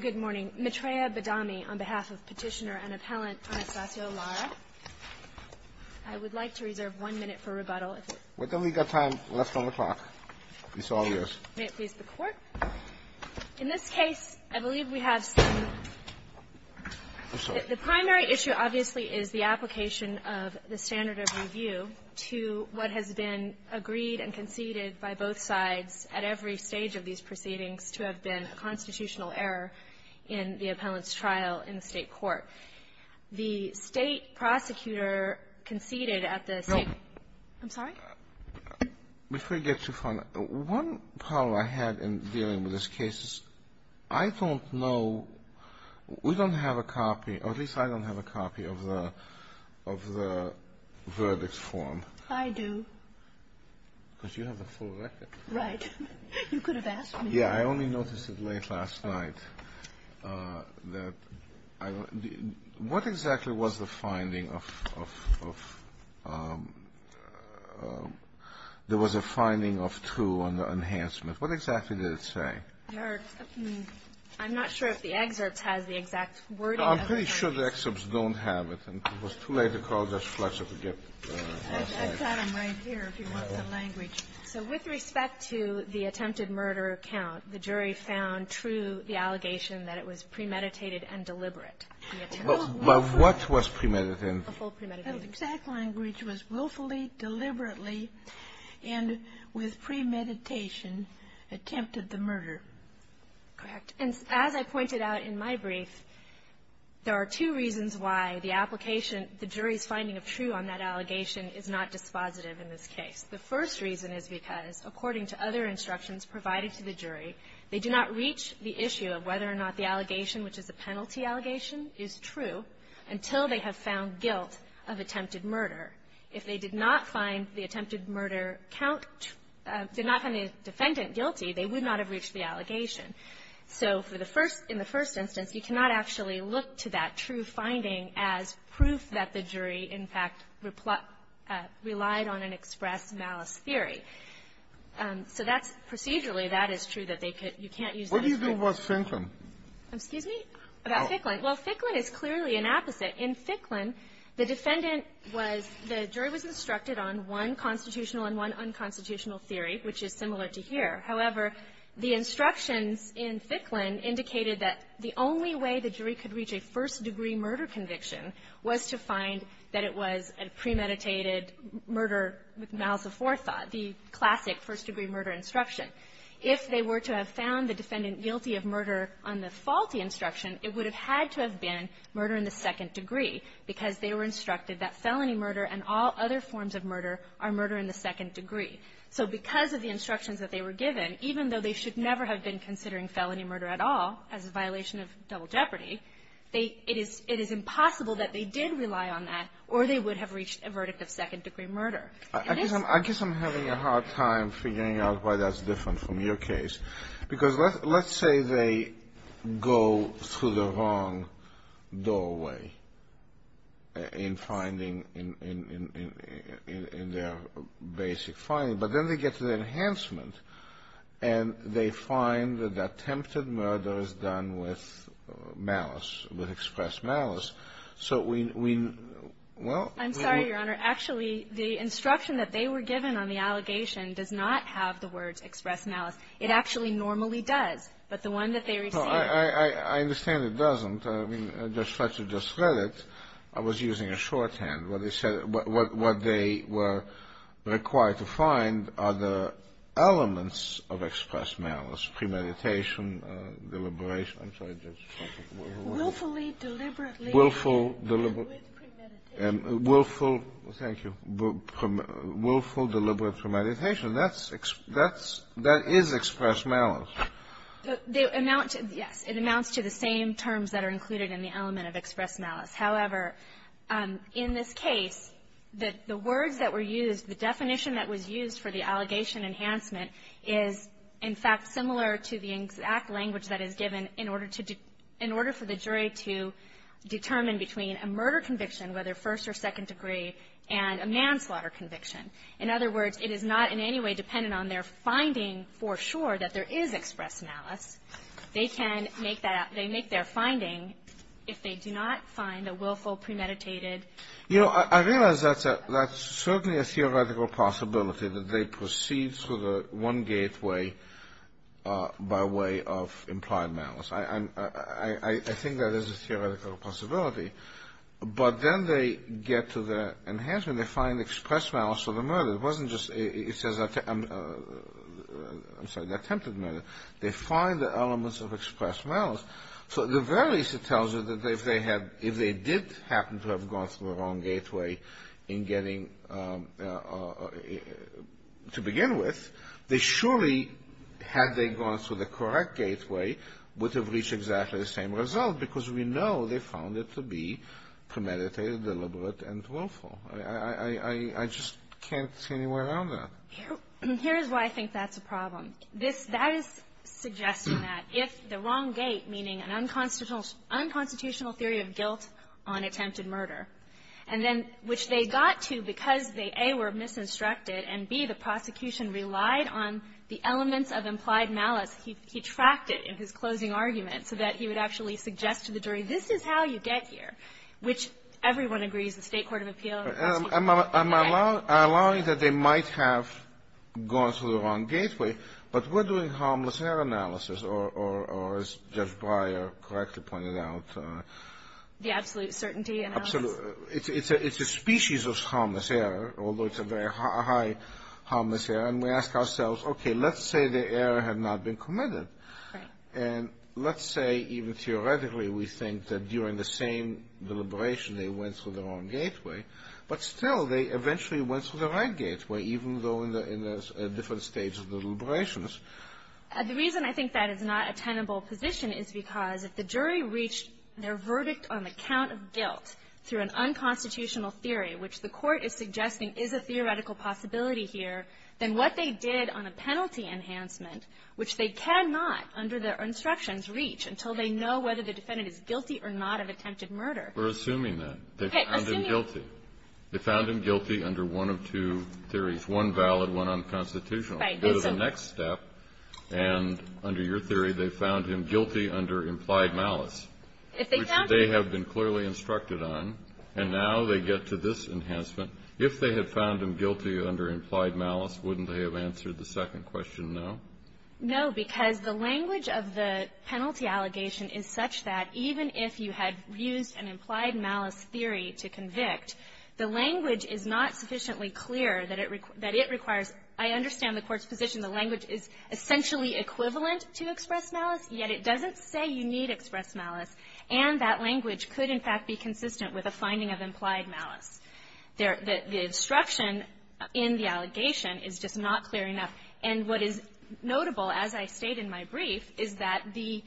Good morning, Maitreya Badami on behalf of Petitioner and Appellant Anastasio Lara. I would like to reserve one minute for rebuttal. We've only got time left on the clock. It's all yours. May it please the Court? In this case, I believe we have some – I'm sorry. The primary issue, obviously, is the application of the standard of review to what has been agreed and conceded by both sides at every stage of these proceedings to have been a constitutional error in the appellant's trial in the State court. The State prosecutor conceded at the State – No. I'm sorry? Before you get too far, one problem I had in dealing with this case is I don't know – we don't have a copy, or at least I don't have a copy of the verdict form. I do. Because you have the full record. Right. You could have asked me. Yeah. I only noticed it late last night that I – what exactly was the finding of – there was a finding of two on the enhancement. What exactly did it say? I'm not sure if the excerpt has the exact wording. I'm pretty sure the excerpts don't have it. It was too late to call Judge Fletcher to get it last night. I've got them right here if you want the language. So with respect to the attempted murder account, the jury found true the allegation that it was premeditated and deliberate. Well, what was premeditated? A full premeditation. The exact language was willfully, deliberately, and with premeditation, attempted the murder. Correct. And as I pointed out in my brief, there are two reasons why the application – the jury's finding of true on that allegation is not dispositive in this case. The first reason is because, according to other instructions provided to the jury, they did not reach the issue of whether or not the allegation, which is a penalty allegation, is true until they have found guilt of attempted murder. If they did not find the attempted murder count – did not find the defendant guilty, they would not have reached the allegation. So for the first – in the first instance, you cannot actually look to that true finding as proof that the jury, in fact, relied on an express malice theory. So that's – procedurally, that is true that they could – you can't use that as proof. What do you do about Ficklin? Excuse me? About Ficklin. Well, Ficklin is clearly an opposite. In Ficklin, the defendant was – the jury was instructed on one constitutional and one unconstitutional theory, which is similar to here. However, the instructions in Ficklin indicated that the only way the jury could reach a first-degree murder conviction was to find that it was a premeditated murder with malice of forethought, the classic first-degree murder instruction. If they were to have found the defendant guilty of murder on the faulty instruction, it would have had to have been murder in the second degree, because they were instructed that felony murder and all other forms of murder are murder in the second degree. So because of the instructions that they were given, even though they should never have been considering felony murder at all as a violation of double jeopardy, they – it is – it is impossible that they did rely on that, or they would have reached a verdict of second-degree murder. I guess I'm – I guess I'm having a hard time figuring out why that's different from your case, because let's – let's say they go through the wrong doorway in finding – in their basic finding, but then they get to the enhancement and they find that attempted murder is done with malice, with expressed malice. So we – well, we – I'm sorry, Your Honor. Actually, the instruction that they were given on the allegation does not have the words expressed malice. It actually normally does. But the one that they received... Well, I – I – I understand it doesn't. I mean, Judge Fletcher just read it. I was using a shorthand. What they said – what – what they were required to find are the elements of expressed malice, premeditation, deliberation. I'm sorry, Judge. Willfully, deliberately... Willful, deliberate... ...with premeditation. That's – that's – that is expressed malice. They amount to – yes. It amounts to the same terms that are included in the element of expressed malice. However, in this case, the words that were used, the definition that was used for the allegation enhancement is, in fact, similar to the exact language that is given in order to – in order for the jury to determine between a murder conviction, whether first or second degree, and a manslaughter conviction. In other words, it is not in any way dependent on their finding for sure that there is expressed malice. They can make that – they make their finding if they do not find a willful, premeditated... You know, I realize that's a – that's certainly a theoretical possibility, that they proceed through the one gateway by way of implied malice. I'm – I think that is a theoretical possibility. But then they get to the enhancement. They find expressed malice for the murder. It wasn't just – it says – I'm sorry, the attempted murder. They find the elements of expressed malice. So at the very least, it tells you that if they had – if they did happen to have gone through the wrong gateway in getting – to begin with, they surely, had they gone through the correct gateway, would have reached exactly the same result, because we know they found it to be premeditated, deliberate, and willful. I just can't see any way around that. Here is why I think that's a problem. That is suggesting that if the wrong gate, meaning an unconstitutional theory of guilt on attempted murder, and then which they got to because they, A, were misinstructed, and B, the prosecution relied on the elements of implied malice, he tracked it in his closing argument so that he would actually suggest to the jury, this is how you get here, which everyone agrees, the State Court of Appeals. I'm allowing that they might have gone through the wrong gateway. But we're doing harmless error analysis, or as Judge Breyer correctly pointed out. The absolute certainty analysis. It's a species of harmless error, although it's a very high harmless error. And we ask ourselves, okay, let's say the error had not been committed. And let's say, even theoretically, we think that during the same deliberation, they went through the wrong gateway. But still, they eventually went through the right gateway, even though in a different stage of the deliberations. The reason I think that is not a tenable position is because if the jury reached their verdict on the count of guilt through an unconstitutional theory, which the Court is suggesting is a theoretical possibility here, then what they did on a penalty enhancement, which they cannot, under their instructions, reach until they know whether the defendant is guilty or not of attempted murder. Kennedy. We're assuming that. Okay. Assuming. They found him guilty. They found him guilty under one of two theories, one valid, one unconstitutional. Right. That's a next step. And under your theory, they found him guilty under implied malice. If they found him. They have been clearly instructed on. And now they get to this enhancement. If they had found him guilty under implied malice, wouldn't they have answered the second question, no? No, because the language of the penalty allegation is such that even if you had used an implied malice theory to convict, the language is not sufficiently clear that it requires. I understand the Court's position. The language is essentially equivalent to express malice, yet it doesn't say you need to express malice. And that language could, in fact, be consistent with a finding of implied malice. The instruction in the allegation is just not clear enough. And what is notable, as I state in my brief, is that the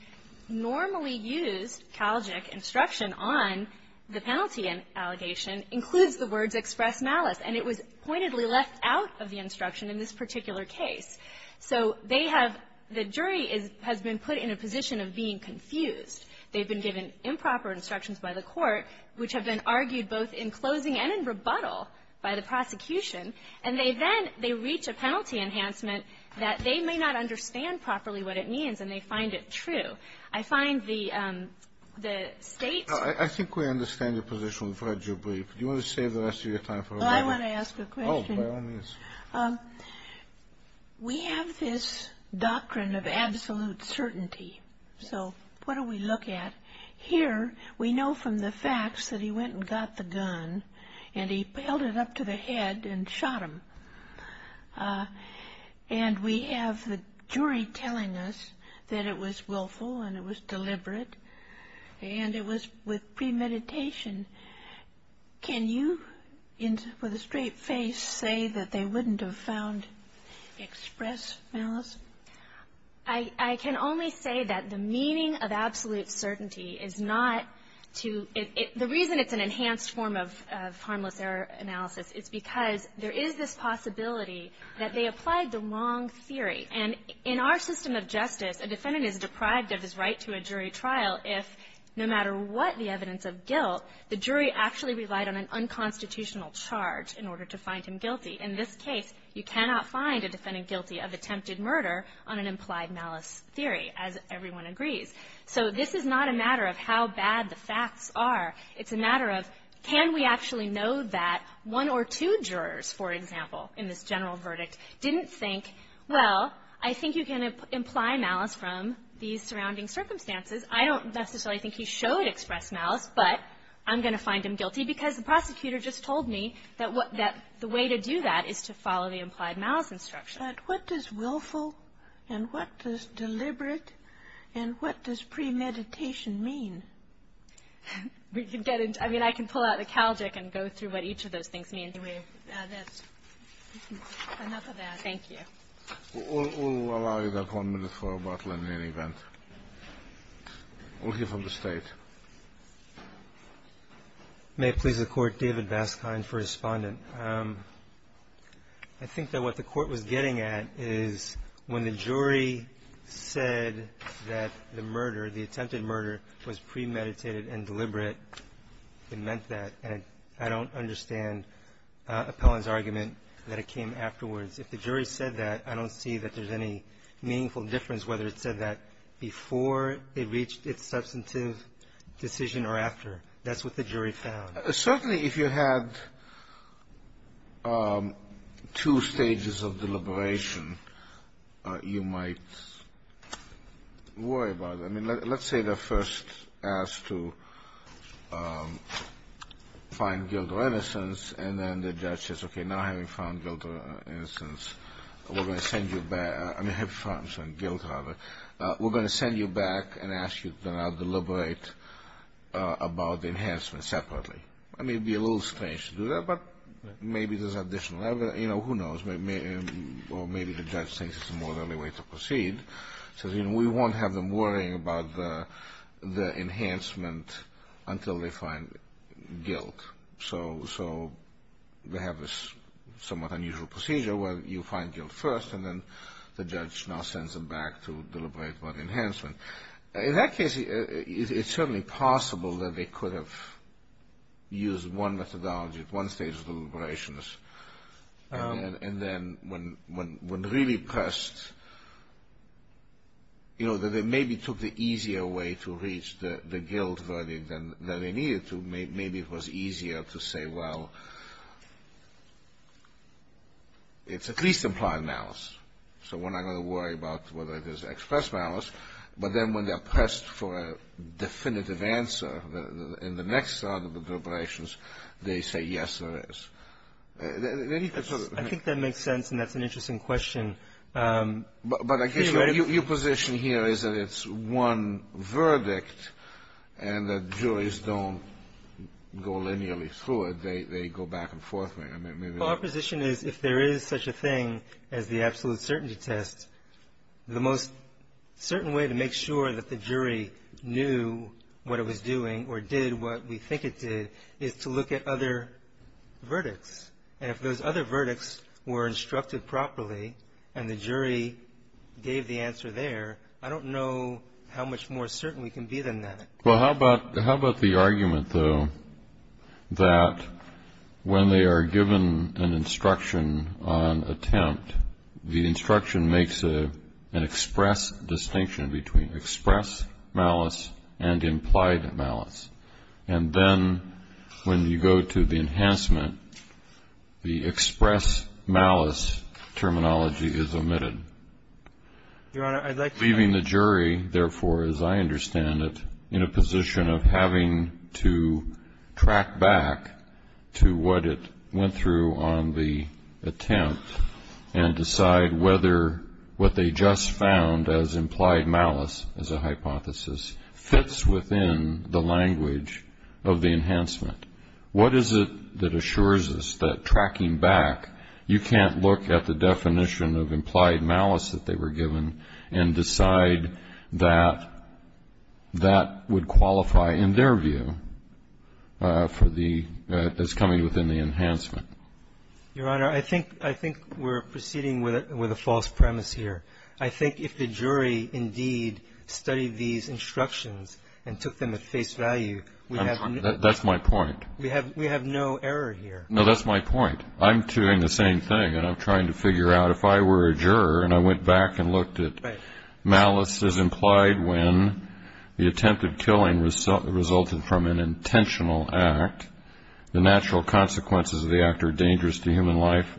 normally used Calgic instruction on the penalty allegation includes the words express malice, and it was pointedly left out of the instruction in this particular case. So they have the jury has been put in a position of being confused. They've been given improper instructions by the Court, which have been argued both in closing and in rebuttal by the prosecution. And they then, they reach a penalty enhancement that they may not understand properly what it means, and they find it true. I find the State's ---- I think we understand your position, Fred, your brief. Do you want to save the rest of your time for another? Oh, I want to ask a question. Oh, by all means. We have this doctrine of absolute certainty. So what do we look at? Here, we know from the facts that he went and got the gun, and he held it up to the head and shot him. And we have the jury telling us that it was willful and it was deliberate, and it was with premeditation. Can you, with a straight face, say that they wouldn't have found express malice? I can only say that the meaning of absolute certainty is not to ---- the reason it's an enhanced form of harmless error analysis is because there is this possibility that they applied the wrong theory. And in our system of justice, a defendant is deprived of his right to a jury trial if no matter what the evidence of guilt, the jury actually relied on an unconstitutional charge in order to find him guilty. In this case, you cannot find a defendant guilty of attempted murder on an implied malice theory, as everyone agrees. So this is not a matter of how bad the facts are. It's a matter of can we actually know that one or two jurors, for example, in this general verdict didn't think, well, I think you can imply malice from these surrounding circumstances. I don't necessarily think he showed express malice, but I'm going to find him guilty because the prosecutor just told me that the way to do that is to follow the implied malice instruction. But what does willful and what does deliberate and what does premeditation mean? We can get into ---- I mean, I can pull out the Calgic and go through what each of those things mean. That's enough of that. Thank you. We'll allow you about one minute for rebuttal in any event. We'll hear from the State. May it please the Court, David Vascon for Respondent. I think that what the Court was getting at is when the jury said that the murder, the attempted murder, was premeditated and deliberate, it meant that. And I don't understand Appellant's argument that it came afterwards. If the jury said that, I don't see that there's any meaningful difference whether it said that before it reached its substantive decision or after. That's what the jury found. Certainly if you had two stages of deliberation, you might worry about it. I mean, let's say they're first asked to find guilt or innocence, and then the judge says, okay, now having found guilt or innocence, we're going to send you back. I mean, have found some guilt, rather. We're going to send you back and ask you to deliberate about the enhancement separately. I mean, it would be a little strange to do that, but maybe there's additional evidence. You know, who knows? Or maybe the judge thinks it's a more early way to proceed. So, you know, we won't have them worrying about the enhancement until they find guilt. So we have this somewhat unusual procedure where you find guilt first, and then the judge now sends them back to deliberate about enhancement. In that case, it's certainly possible that they could have used one methodology at one stage of deliberations. And then when really pressed, you know, that they maybe took the easier way to reach the guilt verdict than they needed to. Maybe it was easier to say, well, it's at least implied malice. So we're not going to worry about whether it is expressed malice. But then when they're pressed for a definitive answer in the next side of the deliberations, they say, yes, there is. I think that makes sense, and that's an interesting question. But I guess your position here is that it's one verdict and that juries don't go linearly through it. They go back and forth. Well, our position is if there is such a thing as the absolute certainty test, the most certain way to make sure that the jury knew what it was doing or did what we think it did is to look at other verdicts. And if those other verdicts were instructed properly and the jury gave the answer there, I don't know how much more certain we can be than that. Well, how about the argument, though, that when they are given an instruction on attempt, the instruction makes an express distinction between express malice and implied malice. And then when you go to the enhancement, the express malice terminology is omitted. Your Honor, I'd like to ---- Leaving the jury, therefore, as I understand it, in a position of having to track back to what it went through on the attempt and decide whether what they just found as implied malice as a hypothesis fits within the language of the enhancement, what is it that assures us that tracking back, you can't look at the definition of implied malice that they were given and decide that that would qualify in their view for the ---- as coming within the enhancement? Your Honor, I think we're proceeding with a false premise here. I think if the jury indeed studied these instructions and took them at face value, we have no ---- That's my point. We have no error here. No, that's my point. I'm doing the same thing, and I'm trying to figure out if I were a juror and I went back and looked at malice as implied when the attempted killing resulted from an intentional act, the natural consequences of the act are dangerous to human life,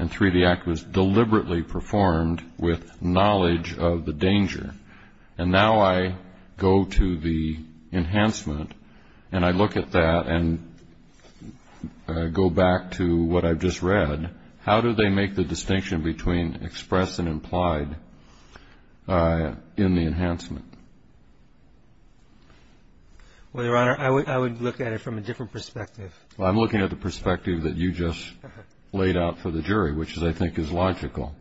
and three, the act was deliberately performed with knowledge of the danger. And now I go to the enhancement and I look at that and go back to what I've just read. How do they make the distinction between express and implied in the enhancement? Well, Your Honor, I would look at it from a different perspective. I'm looking at the perspective that you just laid out for the jury, which I think is logical.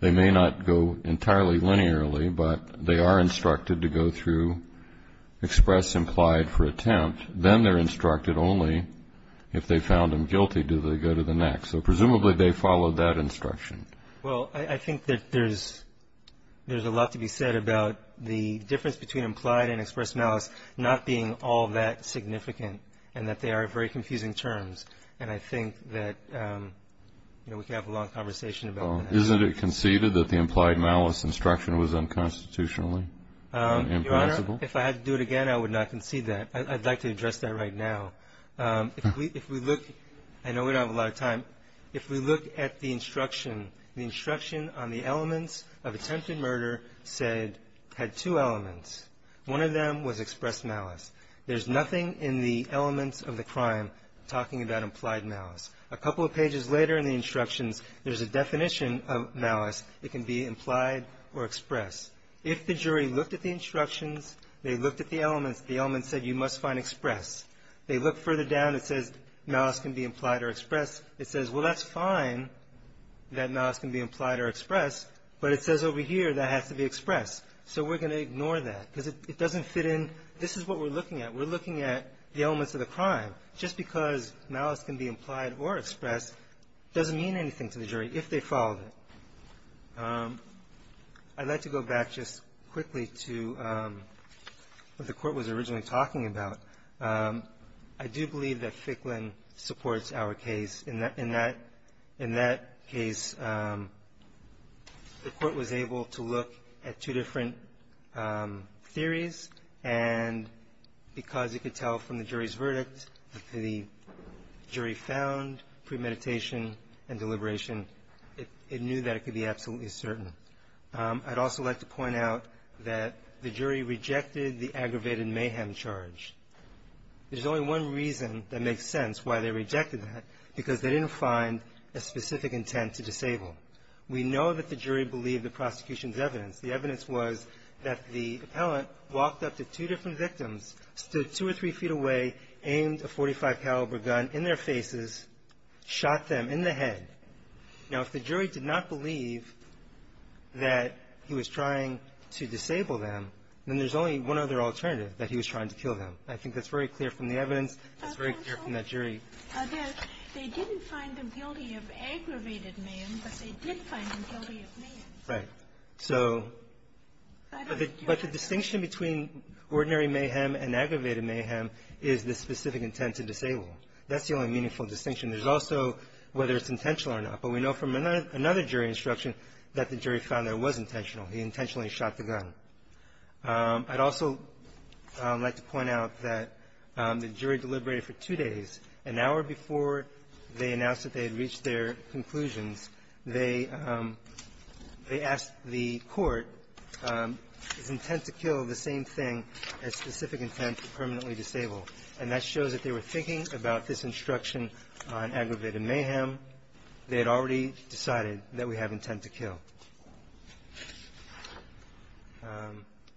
They may not go entirely linearly, but they are instructed to go through express, implied for attempt. Then they're instructed only if they found them guilty do they go to the next. So presumably they followed that instruction. Well, I think that there's a lot to be said about the difference between implied and express malice not being all that significant and that they are very confusing terms. And I think that we could have a long conversation about that. Isn't it conceded that the implied malice instruction was unconstitutionally imprinciple? Your Honor, if I had to do it again, I would not concede that. I'd like to address that right now. If we look, I know we don't have a lot of time, if we look at the instruction, the instruction on the elements of attempted murder said, had two elements. One of them was express malice. There's nothing in the elements of the crime talking about implied malice. A couple of pages later in the instructions, there's a definition of malice. It can be implied or express. If the jury looked at the instructions, they looked at the elements, the elements said you must find express. They look further down, it says malice can be implied or express. It says, well, that's fine that malice can be implied or expressed, but it says over here that has to be expressed. So we're going to ignore that because it doesn't fit in. This is what we're looking at. We're looking at the elements of the crime. Just because malice can be implied or expressed doesn't mean anything to the jury if they followed it. I'd like to go back just quickly to what the Court was originally talking about. I do believe that Ficklin supports our case. In that case, the Court was able to look at two different theories, and because it could tell from the jury's verdict, the jury found premeditation and deliberation, it knew that it could be absolutely certain. I'd also like to point out that the jury rejected the aggravated mayhem charge. There's only one reason that makes sense why they rejected that, because they didn't find a specific intent to disable. We know that the jury believed the prosecution's evidence. The evidence was that the appellant walked up to two different victims, stood two or three feet away, aimed a .45-caliber gun in their faces, shot them in the head. Now, if the jury did not believe that he was trying to disable them, then there's only one other alternative, that he was trying to kill them. I think that's very clear from the evidence. It's very clear from that jury. They didn't find them guilty of aggravated mayhem, but they did find them guilty of mayhem. Right. So the distinction between ordinary mayhem and aggravated mayhem is the specific intent to disable. That's the only meaningful distinction. There's also whether it's intentional or not. But we know from another jury instruction that the jury found that it was intentional. He intentionally shot the gun. I'd also like to point out that the jury deliberated for two days. An hour before they announced that they had reached their conclusions, they asked the court, is intent to kill the same thing as specific intent to permanently disable? And that shows that they were thinking about this instruction on aggravated mayhem. They had already decided that we have intent to kill.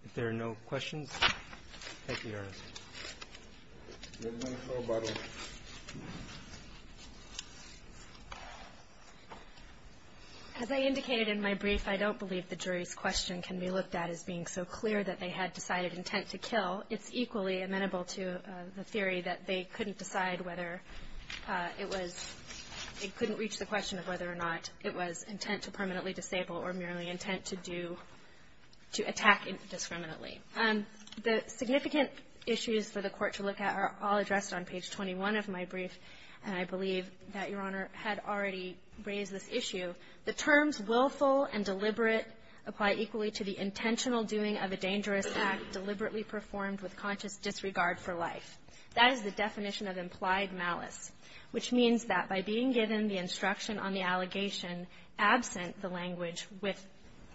If there are no questions, thank you, Your Honor. As I indicated in my brief, I don't believe the jury's question can be looked at as being so clear that they had decided intent to kill. It's equally amenable to the theory that they couldn't decide whether it was they couldn't reach the question of whether or not it was intent to permanently disable or merely intent to do, to attack discriminately. The significant issues for the Court to look at are all addressed on page 21 of my brief, and I believe that Your Honor had already raised this issue. The terms willful and deliberate apply equally to the intentional doing of a dangerous act deliberately performed with conscious disregard for life. That is the definition of implied malice, which means that by being given the instruction on the allegation absent the language with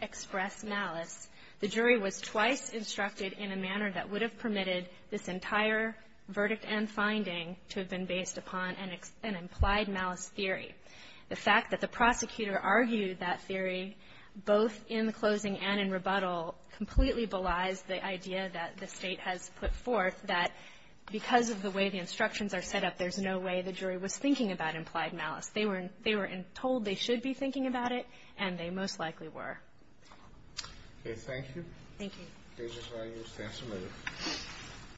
expressed malice, the jury was twice instructed in a manner that would have permitted this entire verdict and finding to have been based upon an implied malice theory. The fact that the prosecutor argued that theory both in the closing and in rebuttal completely belies the idea that the State has put forth that because of the way the instructions are set up, there's no way the jury was thinking about implied malice. They were told they should be thinking about it, and they most likely were. Okay. Thank you. Thank you.